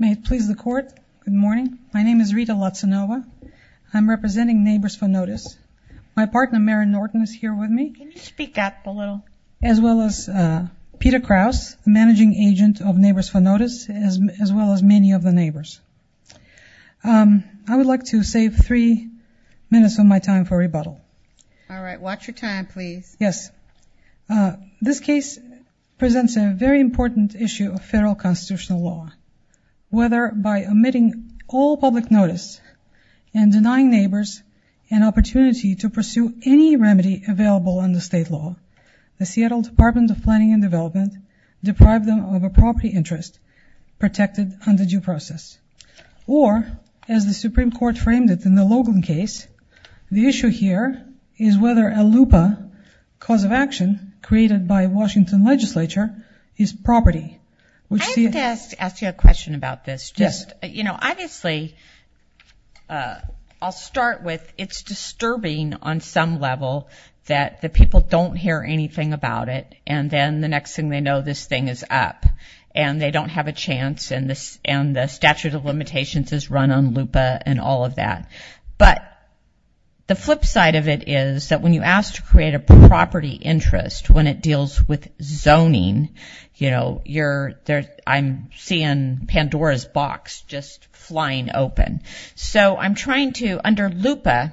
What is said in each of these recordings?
May it please the court, good morning. My name is Rita Latsanova. I'm representing Neighbors for Notice. My partner, Maren Norton, is here with me. Can you speak up a little? As well as Peter Krause, the managing agent of Neighbors for Notice, as well as many of the neighbors. I would like to save three minutes of my time for rebuttal. All right, watch your time please. Yes, this case presents a very important issue of federal constitutional law. Whether by omitting all public notice and denying neighbors an opportunity to pursue any remedy available under state law, the Seattle Department of Planning and Development deprived them of a property interest protected under due process. Or, as the Supreme Court framed it in the Logan case, the issue here is whether a LUPA, cause of action, created by Washington legislature, is property. I have to ask you a question about this. Just, you know, obviously, I'll start with it's disturbing on some level that the people don't hear anything about it and then the next thing they know this thing is up and they don't have a chance and the statute of limitations is run on LUPA and all of that. But, the flip side of it is that when you ask to create a property interest, when it deals with zoning, you know, I'm seeing Pandora's box just flying open. So, I'm trying to, under LUPA,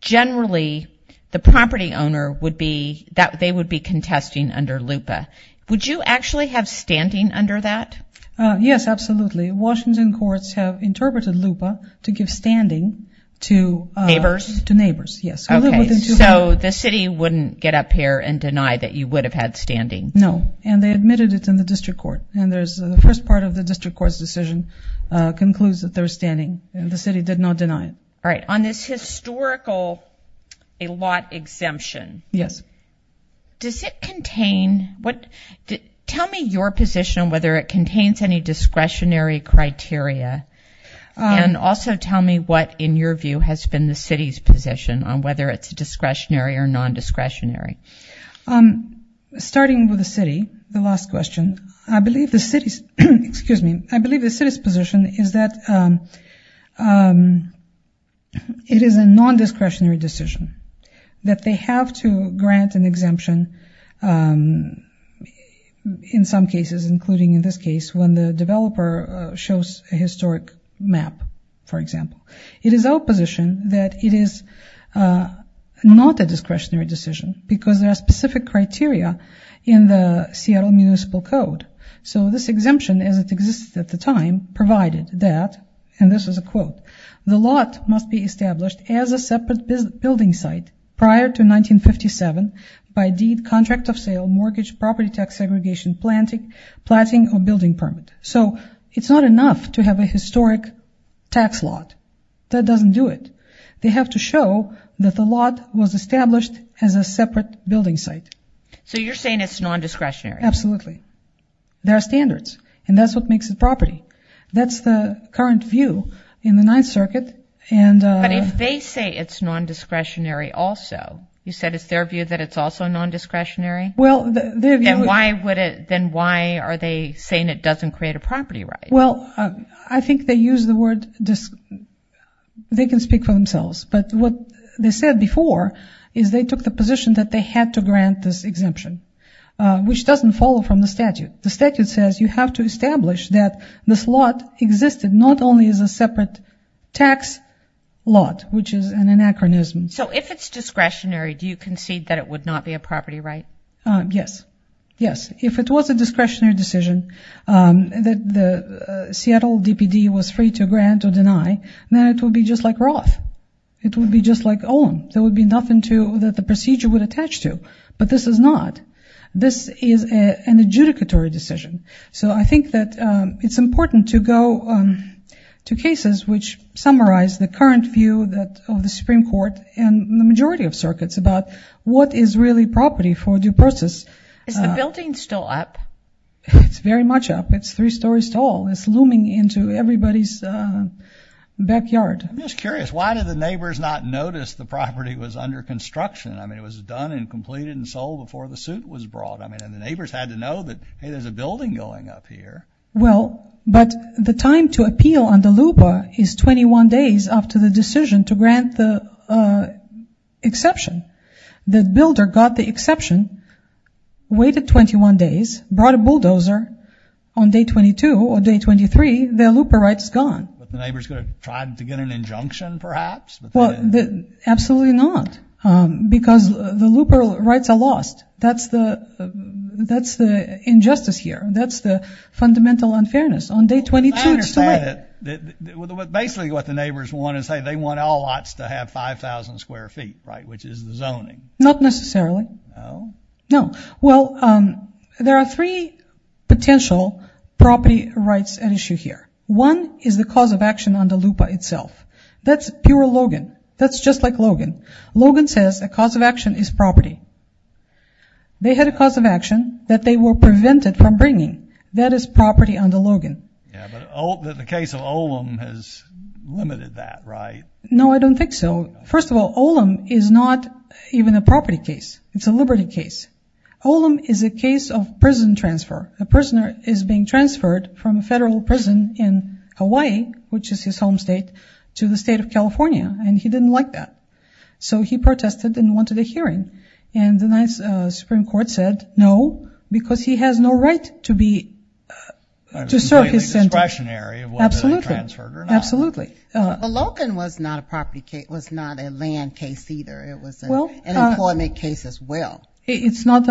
generally the property owner would be, they would be contesting under LUPA. Would you actually have standing under that? Yes, absolutely. Washington courts have interpreted LUPA to give standing to neighbors. Yes. So, the city wouldn't get up here and deny that you would have had standing? No, and they admitted it in the district court and there's the first part of the district court's decision concludes that they're standing and the city did not your position on whether it contains any discretionary criteria and also tell me what in your view has been the city's position on whether it's a discretionary or non-discretionary. Starting with the city, the last question, I believe the city's, excuse me, I believe the city's position is that it is a non-discretionary decision that they have to grant an exemption in some cases, including in this case when the developer shows a historic map, for example. It is our position that it is not a discretionary decision because there are specific criteria in the Seattle Municipal Code. So, this exemption as it existed at the time provided that, and this is a quote, the lot must be established as a separate building site prior to 1957 by deed, contract of sale, mortgage, property tax segregation, planting or building permit. So, it's not enough to have a historic tax lot. That doesn't do it. They have to show that the lot was established as a separate building site. So, you're saying it's non-discretionary? Absolutely. There are standards and that's what makes it property. That's the current view in the Ninth Circuit. But if they say it's non-discretionary also, you said it's their view that it's also non-discretionary? Then why are they saying it doesn't create a property right? Well, I think they use the word, they can speak for themselves. But what they said before is they took the position that they had to grant this exemption, which doesn't follow from the statute. The statute says you have to establish that this lot existed not only as a separate tax lot, which is an anachronism. So, if it's discretionary, do you concede that it would not be a property right? Yes. Yes. If it was a discretionary decision that the Seattle DPD was free to grant or deny, then it would be just like Roth. It would be just like Olin. There would be nothing that the procedure would attach to. But this is not. This is an adjudicatory decision. So, I think that it's important to go to cases which summarize the current view of the Supreme Court and the majority of circuits about what is really property for due process. Is the building still up? It's very much up. It's three stories tall. It's looming into everybody's backyard. I'm just curious, why did the neighbors not notice the property was under construction? I mean, it was done and completed and sold before the suit was brought. I mean, the neighbors had to know that, hey, there's a building going up here. Well, but the time to appeal on the looper is 21 days after the decision to grant the exception. The builder got the exception, waited 21 days, brought a bulldozer on day 22 or day 23, their looper rights gone. But the neighbors could have tried to get an injunction, perhaps? Absolutely not. Because the looper rights are lost. That's the injustice here. That's the fundamental unfairness. On day 22, it's too late. Basically, what the neighbors want to say, they want all lots to have 5,000 square feet, right, which is the zoning. Not necessarily. No. Well, there are three potential property rights at issue here. One is the cause of action on the looper itself. That's pure Logan. That's just like Logan. Logan says the cause of action is property. They had a cause of action that they were prevented from bringing. That is property under Logan. Yeah, but the case of Olam has limited that, right? No, I don't think so. First of all, Olam is not even a property case. It's a liberty case. Olam is a case of prison transfer. A prisoner is being transferred from a federal prison in Hawaii, which is his home state, to the state of California. And he didn't like that. So he protested and wanted a hearing. And the Supreme Court said no, because he has no right to serve his sentence. It's discretionary whether they transferred or not. Absolutely. Logan was not a property case. It was not a land case either. It was an employment case as well. It's not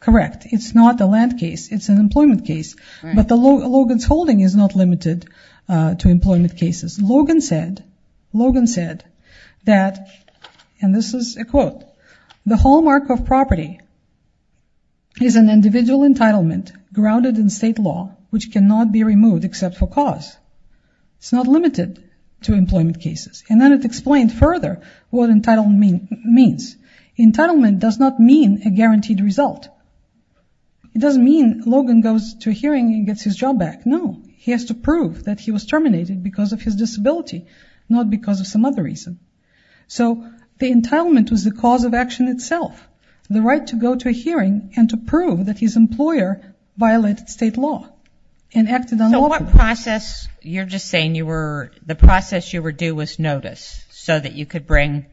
correct. It's not a land case. It's an employment case. But Logan's holding is not limited to employment cases. Logan said that, and this is a quote, the hallmark of property is an individual entitlement grounded in state law, which cannot be removed except for cause. It's not limited to employment cases. And then it explained further what entitlement means. Entitlement does not mean a guaranteed result. It doesn't mean Logan goes to a hearing and gets his job back. No, he has to prove that he was terminated because of his disability, not because of some other reason. So the entitlement was the cause of action itself. The right to go to a hearing and to prove that his employer violated state law and acted on Logan. You're just saying the process you were due was notice so that you could bring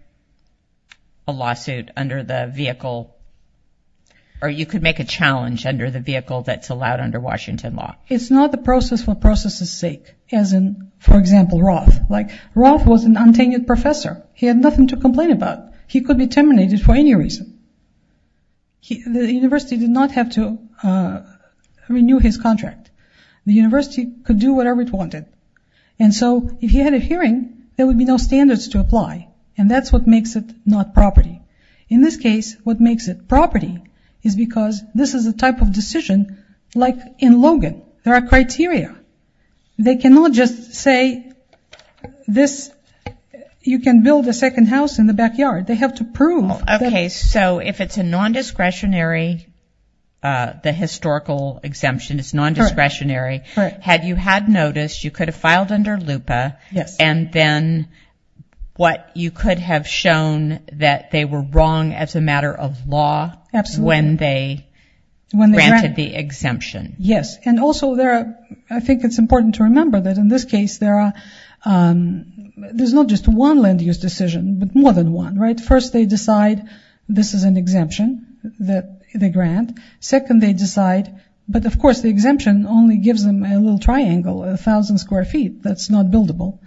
a lawsuit under the vehicle or you could make a challenge under the vehicle that's allowed under Washington law. It's not the process for process's sake, as in, for example, Roth. Roth was an untenured professor. He had nothing to complain about. He could be terminated for any reason. The university did not have to renew his contract. The university could do whatever it wanted. And so if he had a hearing, there would be no standards to apply. And that's what makes it not property. In this case, what makes it property is because this is a type of decision like in Logan. There are criteria. They cannot just say this. You can build a second house in the backyard. They have to prove. Okay, so if it's a non-discretionary, the historical exemption is non-discretionary, had you had noticed, you could have filed under LUPA. Yes. And then what you could have shown that they were wrong as a matter of law. Absolutely. When they granted the exemption. Yes. And also there, I think it's important to remember that in this case, there's not just one land use decision, but more than one, right? First, they decide this is an exemption that they grant. Second, they decide, but of course the exemption only gives them a little triangle, a thousand square feet. That's not buildable.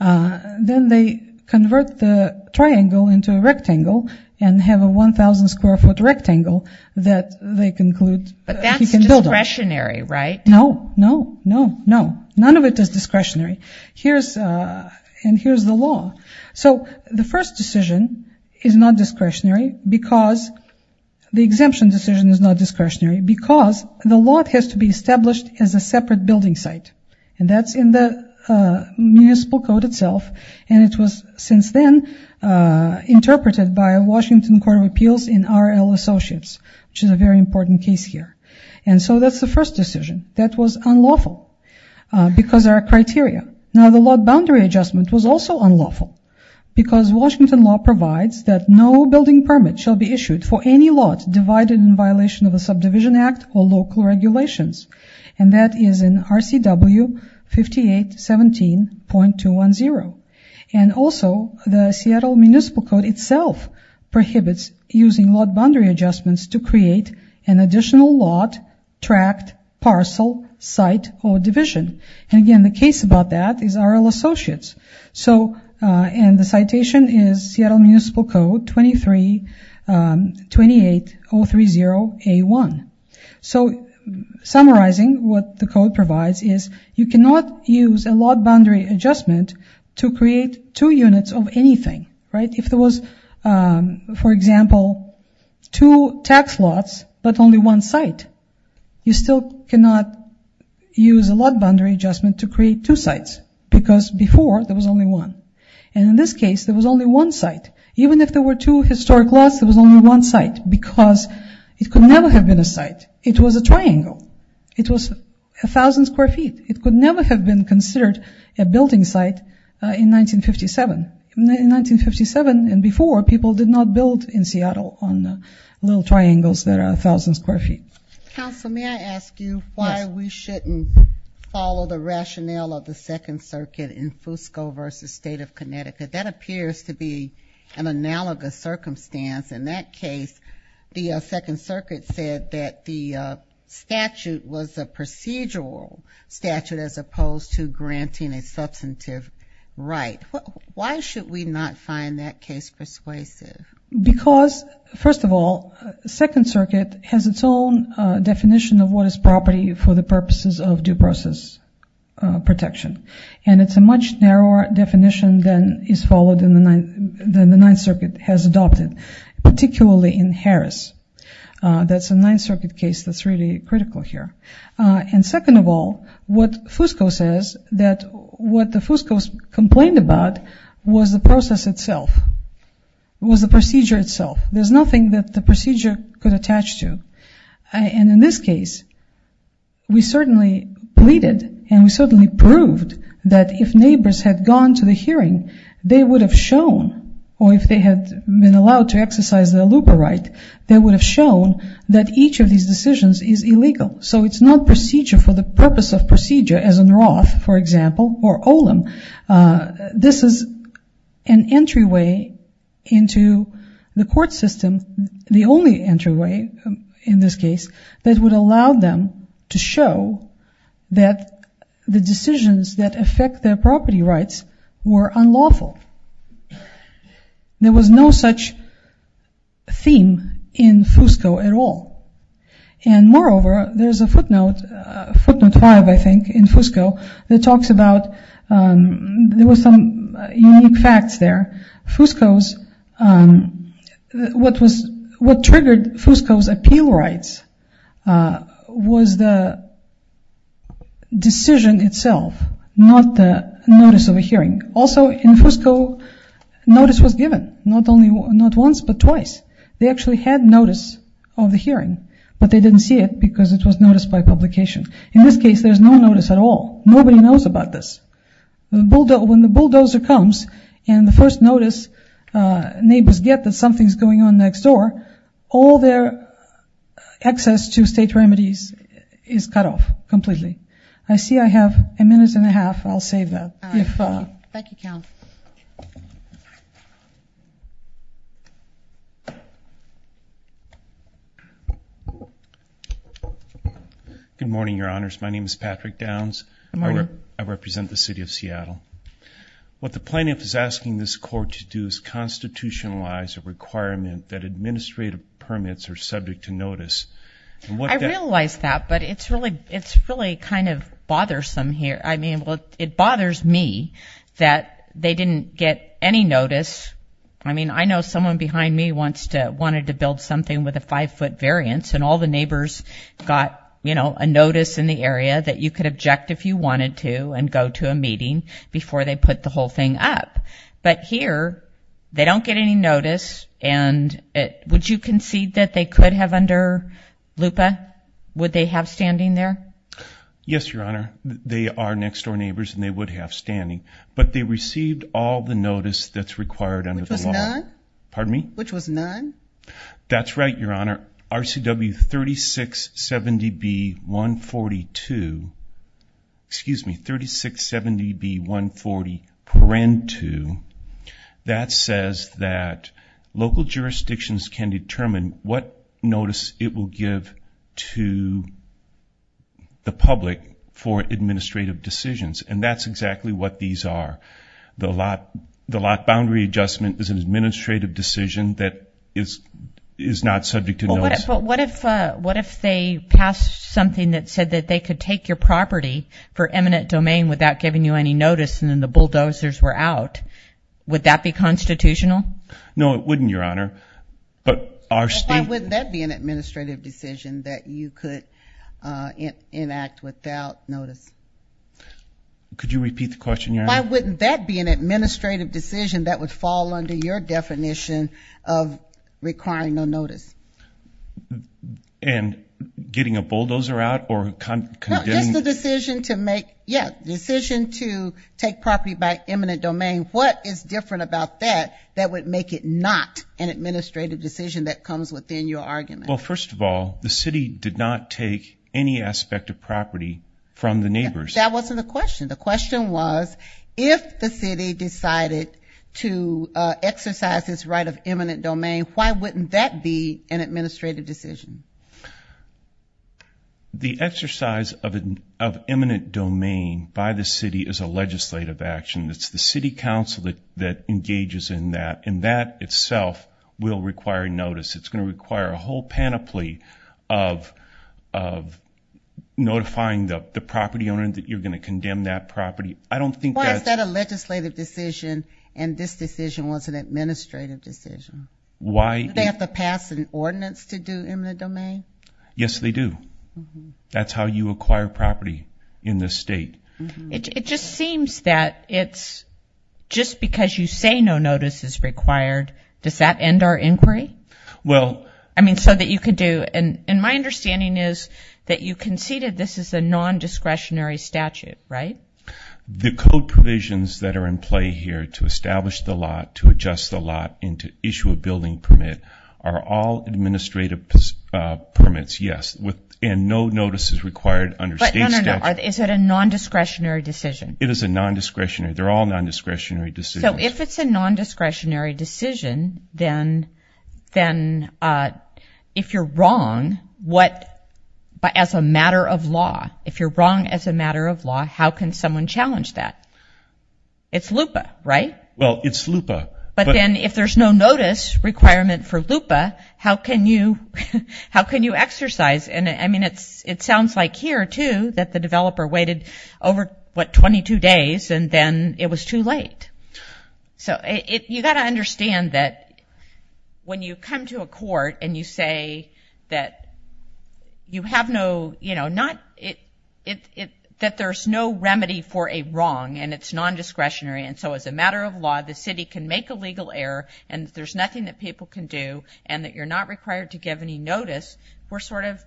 Then they convert the triangle into a rectangle and have a 1000 square foot rectangle that they conclude. But that's discretionary, right? No, no, no, no. None of it is discretionary. Here's the law. So the first decision is not discretionary because the exemption decision is not discretionary because the law has to be established as a separate building site. And that's in the municipal code itself. And it was since then interpreted by Washington Court of Appeals in RL Associates, which is a very that was unlawful because there are criteria. Now the lot boundary adjustment was also unlawful because Washington law provides that no building permit shall be issued for any lot divided in violation of a subdivision act or local regulations. And that is in RCW 5817.210. And also the Seattle municipal code itself prohibits using lot boundary adjustments to parcel, site, or division. And again, the case about that is RL Associates. And the citation is Seattle municipal code 23-28030A1. So summarizing what the code provides is you cannot use a lot boundary adjustment to create two units of anything, right? If there was, for example, two tax lots but only one site, you still cannot use a lot boundary adjustment to create two sites because before there was only one. And in this case, there was only one site. Even if there were two historic lots, there was only one site because it could never have been a site. It was a triangle. It was a thousand square feet. It could never have been considered a building site in 1957. In 1957 and before, people did not build in Seattle on little triangles that are a thousand square feet. Council, may I ask you why we shouldn't follow the rationale of the Second Circuit in Fusco versus State of Connecticut? That appears to be an analogous circumstance. In that case, the Second Circuit said that the statute was a procedural statute as opposed to granting a substantive right. Why should we not find that case persuasive? Because, first of all, the Second Circuit has its own definition of what is property for the purposes of due process protection. And it's a much narrower definition than the Ninth Circuit has adopted, particularly in Harris. That's a Ninth Circuit case that's really critical here. And second of all, what Fusco says that what the Fuscos complained about was the process itself, was the procedure itself. There's nothing that the procedure could attach to. And in this case, we certainly pleaded and we certainly proved that if neighbors had gone to the hearing, they would have shown, or if they had been allowed to exercise their looper right, they would have shown that each of these decisions is illegal. So it's not procedure for the purpose of procedure as in Roth, for example, or Olim. This is an entryway into the court system, the only entryway in this case, that would allow them to show that the decisions that affect their property rights were unlawful. There was no such theme in Fusco at all. And moreover, there's a footnote, footnote five, I think, in Fusco that talks about, there were some unique facts there. Fusco's, what was, what triggered Fusco's appeal rights was the decision itself, not the notice of a hearing. Also in Fusco, notice was once but twice. They actually had notice of the hearing, but they didn't see it because it was noticed by publication. In this case, there's no notice at all. Nobody knows about this. When the bulldozer comes and the first notice, neighbors get that something's going on next door, all their access to state remedies is cut off completely. I see I have a minute and a half. I'll save that. Thank you. Good morning, your honors. My name is Patrick Downs. I represent the city of Seattle. What the plaintiff is asking this court to do is constitutionalize a requirement that administrative permits are subject to notice. I realize that, but it's really, it's really kind of bothersome here. I mean, well, it bothers me that they didn't get any notice. I mean, I know someone behind me wants to, wanted to build something with a five foot variance, and all the neighbors got, you know, a notice in the area that you could object if you wanted to and go to a meeting before they put the whole thing up. But here, they don't get any notice, and would you concede that they could have under LUPA? Would they have standing there? Yes, your honor. They are next door neighbors, and they would have standing, but they received all the notice that's required under the law. Which was none? Pardon me? Which was none? That's right, your honor. RCW 3670B-142, excuse me, 3670B-140-2, that says that local jurisdictions can determine what notice it will give to the public for administrative decisions, and that's exactly what these are. The lot, the lot boundary adjustment is an administrative decision that is, is not subject to notice. But what if, what if they passed something that said that they could take your property for eminent domain without giving you notice, and then the bulldozers were out? Would that be constitutional? No, it wouldn't, your honor. But our state... Why wouldn't that be an administrative decision that you could enact without notice? Could you repeat the question, your honor? Why wouldn't that be an administrative decision that would fall under your definition of requiring no notice? And getting a bulldozer out or... No, just the decision to make, yeah, decision to take property by eminent domain. What is different about that that would make it not an administrative decision that comes within your argument? Well, first of all, the city did not take any aspect of property from the neighbors. That wasn't the question. The question was, if the city decided to exercise its right of eminent domain, why wouldn't that be an administrative decision? The exercise of eminent domain by the city is a legislative action. It's the city council that engages in that, and that itself will require notice. It's going to require a whole panoply of notifying the property owner that you're going to condemn that property. I don't think that's... Why is that a legislative decision, and this decision was an administrative decision? Why... Do they have to pass an ordinance to do eminent domain? Yes, they do. That's how you acquire property in this state. It just seems that it's just because you say no notice is required, does that end our inquiry? Well... I mean, so that you could do... And my understanding is that you conceded this is a non-discretionary statute, right? The code provisions that are in play here to establish the lot, to adjust the lot, and to issue a building permit are all administrative permits, yes, and no notice is required under state statute. But no, no, no. Is it a non-discretionary decision? It is a non-discretionary. They're all non-discretionary decisions. So if it's a non-discretionary decision, then if you're wrong, what... As a matter of law, if you're wrong as a matter of law, how can someone challenge that? It's LUPA, right? Well, it's LUPA. But then if there's no notice requirement for LUPA, how can you exercise... And I mean, it sounds like here, too, that the developer waited over, what, 22 days, and then it was too late. So you got to understand that when you come to a court and you say that you have no... That there's no remedy for a wrong, and it's non-discretionary, and so as a matter of law, the city can make a legal error, and there's nothing that people can do, and that you're not required to give any notice, we're sort of,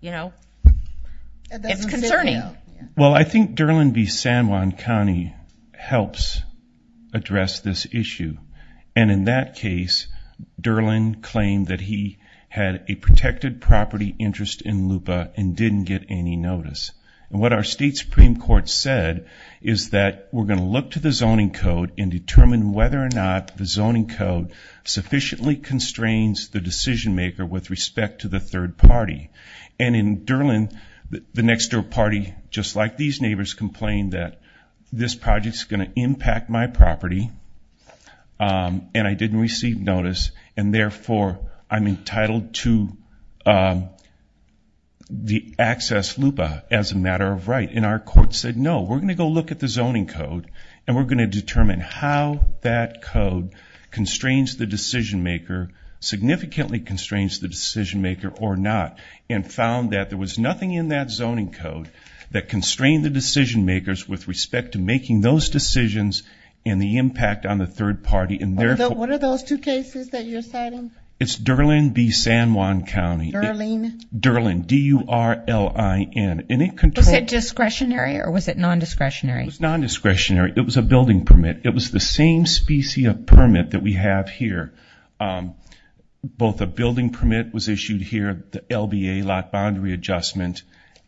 you know, it's concerning. Well, I think Durland v. San Juan County helps address this issue. And in that case, Durland claimed that he had a protected property interest in LUPA and didn't get any notice. And what our state Supreme Court said is that we're going to look to the zoning code and determine whether or not the zoning code sufficiently constrains the decision-maker with respect to the third party. And in Durland, the next door party, just like these neighbors, complained that this project's going to impact my property, and I didn't receive notice, and therefore I'm entitled to the access LUPA as a matter of right. And our court said, no, we're going to go look at the zoning code, and we're going to determine how that code constrains the decision-maker, significantly constrains the decision-maker or not, and found that there was nothing in that zoning code that constrained the decision-makers with respect to making those decisions and the impact on the third party, and therefore... What are those two cases that you're citing? It's Durland v. San Juan County. Durland? Durland, D-U-R-L-I-N, and it controls... Was it discretionary or was it non-discretionary? It was non-discretionary. It was a building permit. It was the same specie of permit that we have here. Both a building permit was issued here, the LBA, lot boundary adjustment,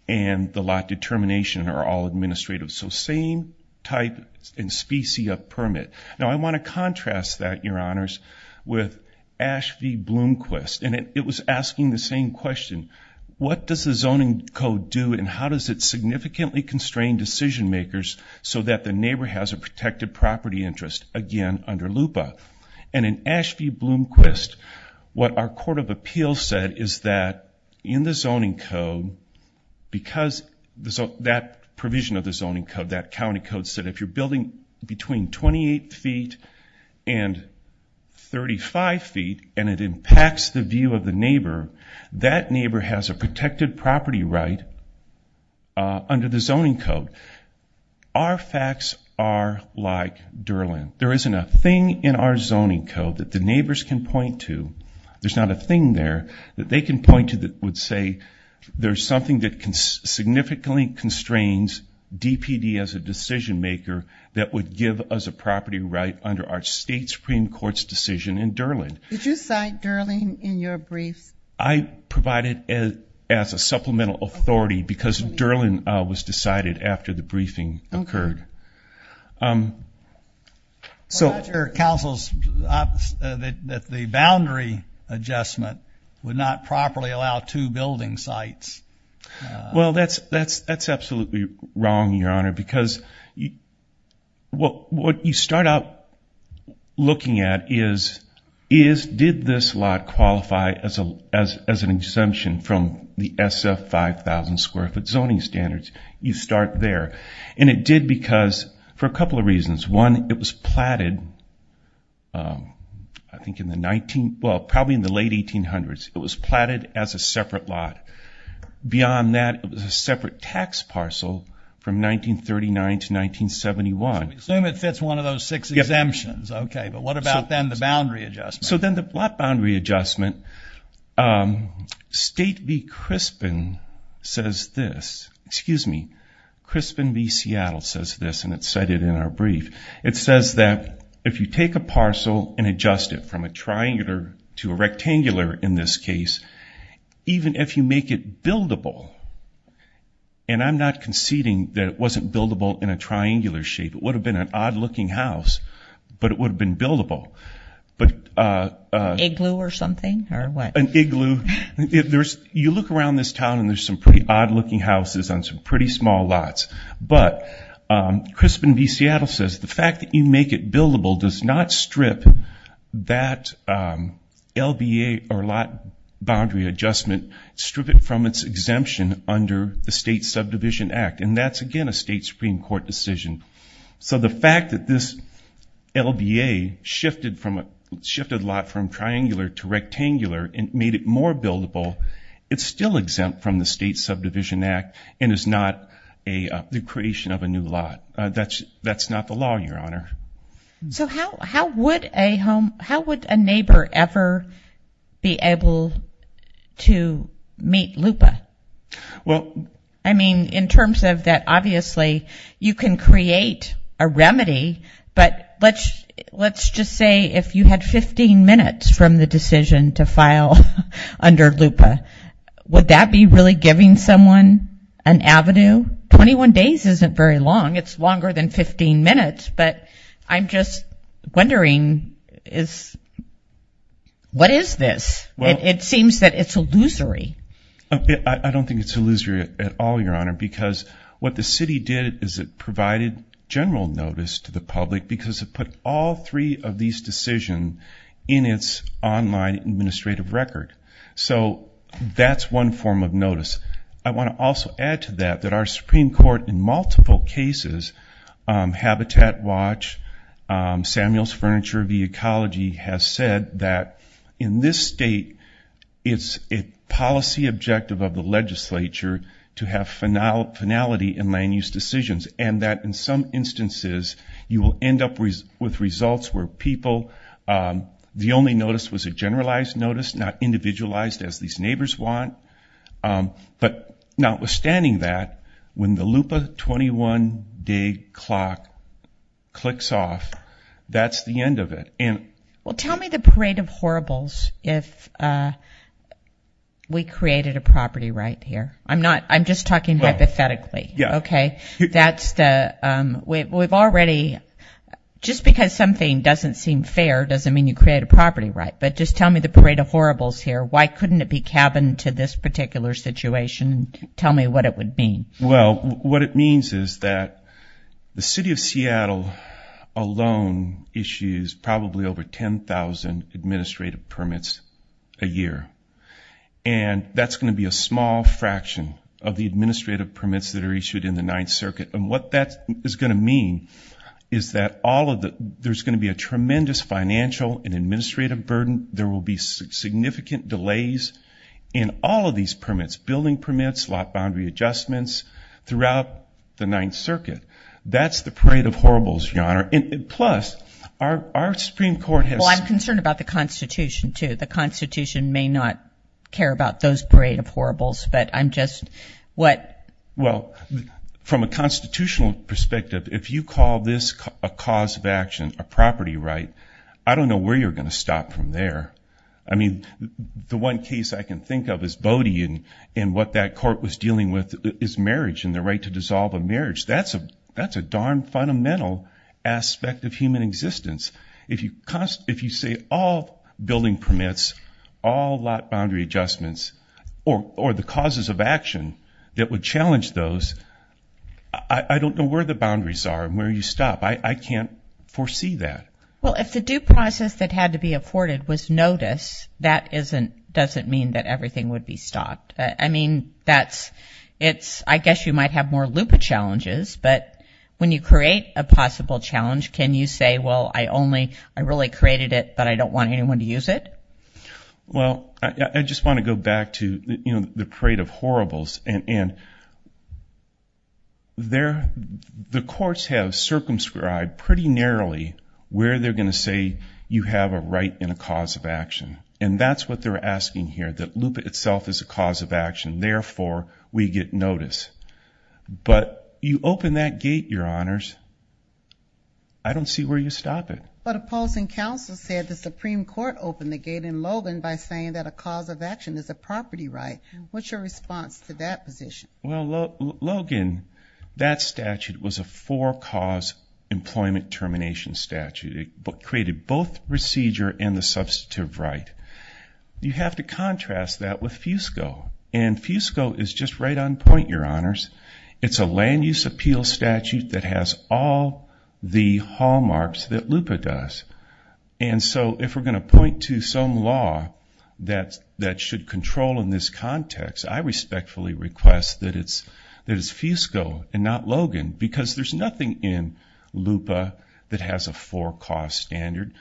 and the lot determination are all administrative. So same type and specie of permit. Now, I want to contrast that, Your Honors, with Ash v. Bloomquist, and it was asking the same question. What does the zoning code do, and how does it significantly constrain decision-makers so that the neighbor has a protected property interest, again, under LUPA? And in Ash v. Bloomquist, what our Court of Appeals said is that in the zoning code, because that provision of the zoning code, that county code said if you're building between 28 feet and 35 feet, and it impacts the view of the neighbor, that neighbor has a protected property right under the zoning code. Our facts are like Derlin. There isn't a thing in our zoning code that the neighbors can point to. There's not a thing there that they can point to that would say there's something that significantly constrains DPD as a decision-maker that would give us a property right under our state Supreme Court's decision in Derlin. Did you cite Derlin in your authority, because Derlin was decided after the briefing occurred? Well, that's your counsel's, that the boundary adjustment would not properly allow two building sites. Well, that's absolutely wrong, Your Honor, because what you start out looking at is, did this lot qualify as an exemption from the SF 5,000 square foot zoning standards? You start there. And it did because, for a couple of reasons. One, it was platted, I think in the 19, well, probably in the late 1800s, it was platted as a separate lot. Beyond that, it was a separate tax parcel from 1939 to 1971. So we assume it fits one of those six exemptions. Okay, but what about then the boundary adjustment? So then the lot boundary adjustment, State v. Crispin says this, excuse me, Crispin v. Seattle says this, and it's cited in our brief. It says that if you take a parcel and adjust it from a triangular to a rectangular in this case, even if you make it buildable, and I'm not conceding that it wasn't buildable in a triangular shape, it would have been an odd looking house, but it would have been buildable. An igloo or something? An igloo. You look around this town and there's some pretty odd looking houses on some pretty small lots. But Crispin v. Seattle says the fact that you make it buildable does not strip that LBA or lot boundary adjustment, strip it from its exemption under the State Subdivision Act. And that's, again, a State Supreme Court decision. So the fact that this LBA shifted a lot from triangular to rectangular and made it more buildable, it's still exempt from the State Subdivision Act and is not the creation of a new lot. That's not the law, Your Honor. So how would a home, how would a You can create a remedy, but let's just say if you had 15 minutes from the decision to file under LUPA, would that be really giving someone an avenue? 21 days isn't very long. It's longer than 15 minutes, but I'm just wondering, what is this? It seems that it's illusory. I don't think it's illusory at all, Your Honor, because what the city did is it provided general notice to the public because it put all three of these decisions in its online administrative record. So that's one form of notice. I want to also add to that that our Supreme Court in multiple objective of the legislature to have finality in land use decisions, and that in some instances, you will end up with results where people, the only notice was a generalized notice, not individualized as these neighbors want. But notwithstanding that, when the LUPA 21 day clock clicks off, that's the end of it. Well, tell me the parade of horribles if we created a property right here. I'm just talking hypothetically. Just because something doesn't seem fair doesn't mean you create a property right, but just tell me the parade of horribles here. Why couldn't it be cabined to this particular situation? Tell me what it would mean. Well, what it means is that the city of Seattle alone issues probably over 10,000 administrative permits a year. And that's going to be a small fraction of the administrative permits that are issued in the Ninth Circuit. And what that is going to mean is that there's going to be a tremendous financial and administrative burden. There will be significant delays in all of these permits, building permits, lot boundary adjustments throughout the Ninth Circuit. That's the parade of horribles, Your Honor. Plus, our Supreme Court has- Well, I'm concerned about the constitution too. The constitution may not care about those parade of horribles, but I'm just... Well, from a constitutional perspective, if you call this a cause of action, a property right, I don't know where you're going to stop from there. I mean, the one case I can think of is that court was dealing with is marriage and the right to dissolve a marriage. That's a darn fundamental aspect of human existence. If you say all building permits, all lot boundary adjustments, or the causes of action that would challenge those, I don't know where the boundaries are and where you stop. I can't foresee that. Well, if the due process that had to be that's... I guess you might have more loop of challenges, but when you create a possible challenge, can you say, well, I really created it, but I don't want anyone to use it? Well, I just want to go back to the parade of horribles. The courts have circumscribed pretty narrowly where they're going to say you have a right and a cause of action. That's what they're asking here, that loop itself is a cause of action. Therefore, we get notice. But you open that gate, your honors, I don't see where you stop it. But opposing counsel said the Supreme Court opened the gate in Logan by saying that a cause of action is a property right. What's your response to that position? Well, Logan, that statute was a four cause employment termination statute. It created both procedure and the substantive right. You have to contrast that with FUSCO. And FUSCO is just right on point, your honors. It's a land use appeal statute that has all the hallmarks that LUPA does. And so if we're going to point to some law that should control in this context, I respectfully request that it's FUSCO and not Logan, because there's nothing in there that's a four cause standard.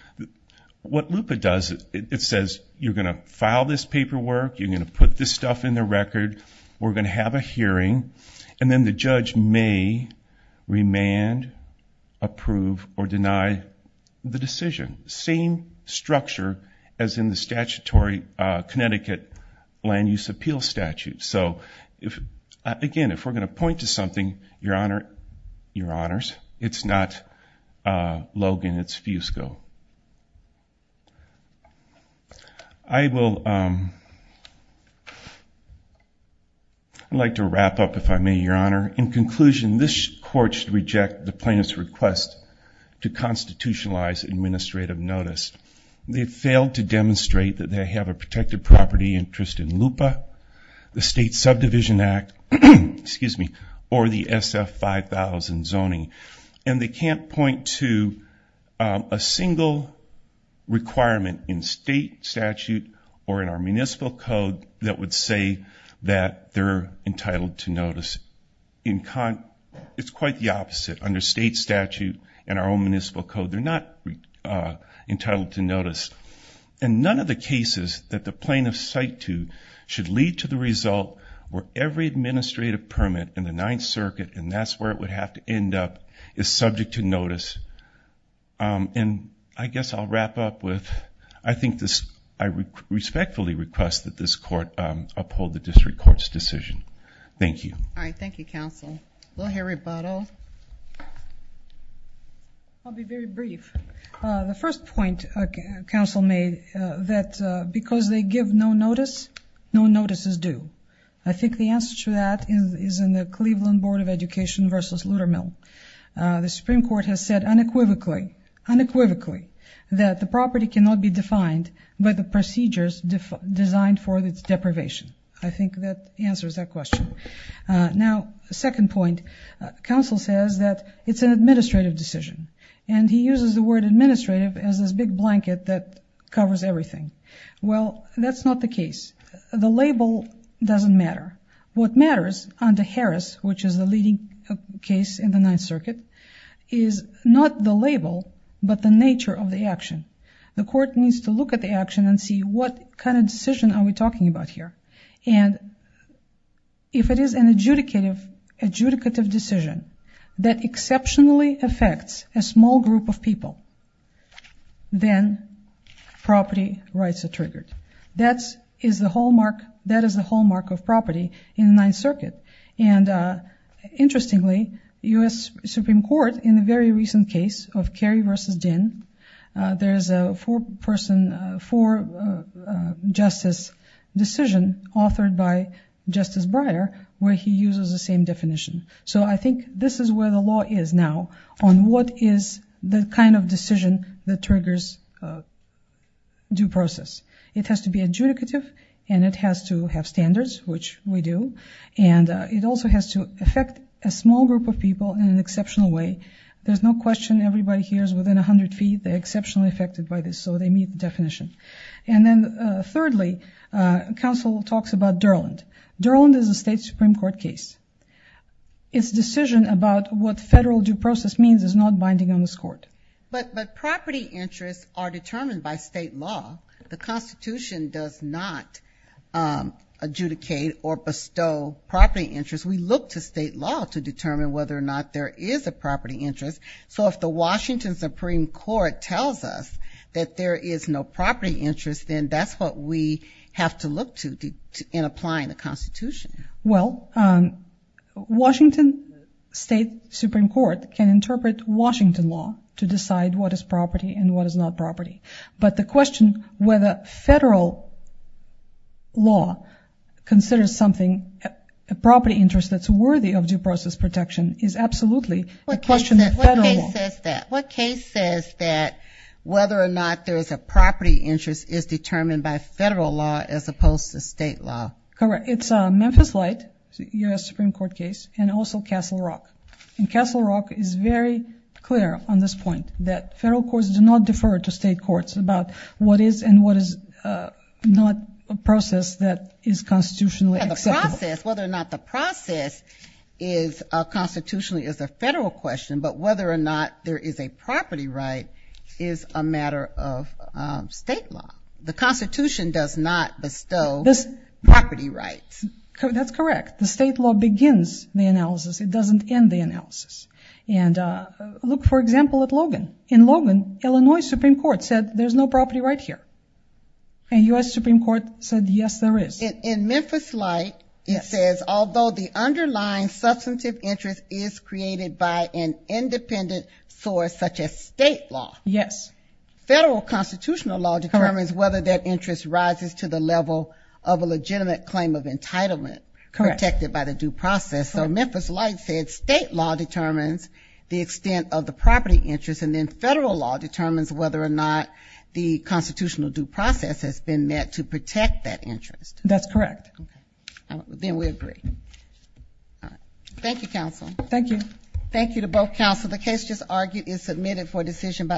What LUPA does, it says you're going to file this paperwork, you're going to put this stuff in the record, we're going to have a hearing, and then the judge may remand, approve, or deny the decision. Same structure as in the statutory Connecticut land use appeal statute. So again, if we're going to point to something, your honors, it's not Logan, it's FUSCO. I would like to wrap up, if I may, your honor. In conclusion, this court should reject the plaintiff's request to constitutionalize administrative notice. They failed to demonstrate that they have a protected property interest in LUPA, the State Subdivision Act, excuse me, or the SF 5000 zoning. And they can't point to a single requirement in state statute or in our municipal code that would say that they're entitled to notice. It's quite the opposite. Under state statute and our own municipal code, they're not entitled to notice. And none of the cases that the plaintiff's cite to should lead to the result where every administrative permit in the Ninth Circuit, and that's where it would have to end up, is subject to notice. And I guess I'll wrap up with, I think this, I respectfully request that this court uphold the district court's decision. Thank you. All right. Thank you, counsel. Will Harry Buttle. I'll be very brief. The first point counsel made that because they give no notice, no notice is due. I think the answer to that is in the Cleveland Board of Education versus Luther Mill. The Supreme Court has said unequivocally, unequivocally, that the property cannot be defined by the procedures designed for its deprivation. I think that answers that question. Now, the second point, counsel says that it's an administrative decision. And he uses the word administrative as this big blanket that covers everything. Well, that's not the case. The label doesn't matter. What matters under Harris, which is the leading case in the Ninth Circuit, is not the label, but the nature of the action. The court needs to look at the action and see what kind of decision are we talking about here. And if it is an adjudicative decision that exceptionally affects a small group of people, then property rights are triggered. That is the hallmark of property in the Ninth Circuit. And interestingly, the U.S. Supreme Court in a very recent case of Kerry versus Dinn, there's a four-person, four-justice decision authored by Justice Breyer, where he uses the same definition. So I think this is where the law is now on what is the kind of decision that triggers due process. It has to be adjudicative, and it has to have standards, which we do. And it also has to affect a small group of people in an exceptional way. There's no question everybody here is within 100 feet. They're Durland. Durland is a state Supreme Court case. Its decision about what federal due process means is not binding on this Court. But property interests are determined by state law. The Constitution does not adjudicate or bestow property interests. We look to state law to determine whether or not there is a property interest. So if the Washington Supreme Court tells us that there is no property interest, then that's what we have to look to in applying the Constitution. Well, Washington State Supreme Court can interpret Washington law to decide what is property and what is not property. But the question whether federal law considers something, a property interest that's worthy of due process protection, is absolutely a question of federal law. What case says that whether or not there is a property interest is determined by federal law as opposed to state law? Correct. It's Memphis Light, a U.S. Supreme Court case, and also Castle Rock. And Castle Rock is very clear on this point that federal courts do not defer to state courts about what is and what is not a process that is constitutionally acceptable. The process, is constitutionally, is a federal question. But whether or not there is a property right is a matter of state law. The Constitution does not bestow property rights. That's correct. The state law begins the analysis. It doesn't end the analysis. And look, for example, at Logan. In Logan, Illinois Supreme Court said there's no property right here. And U.S. Supreme Court said yes, there is. In Memphis Light, it says although the underlying substantive interest is created by an independent source such as state law. Yes. Federal constitutional law determines whether that interest rises to the level of a legitimate claim of entitlement protected by the due process. So Memphis Light said state law determines the extent of the property interest. And then federal law determines whether or not the constitutional due process has been met to protect that interest. That's correct. Then we agree. All right. Thank you, counsel. Thank you. Thank you to both counsel. The case just argued is submitted for decision by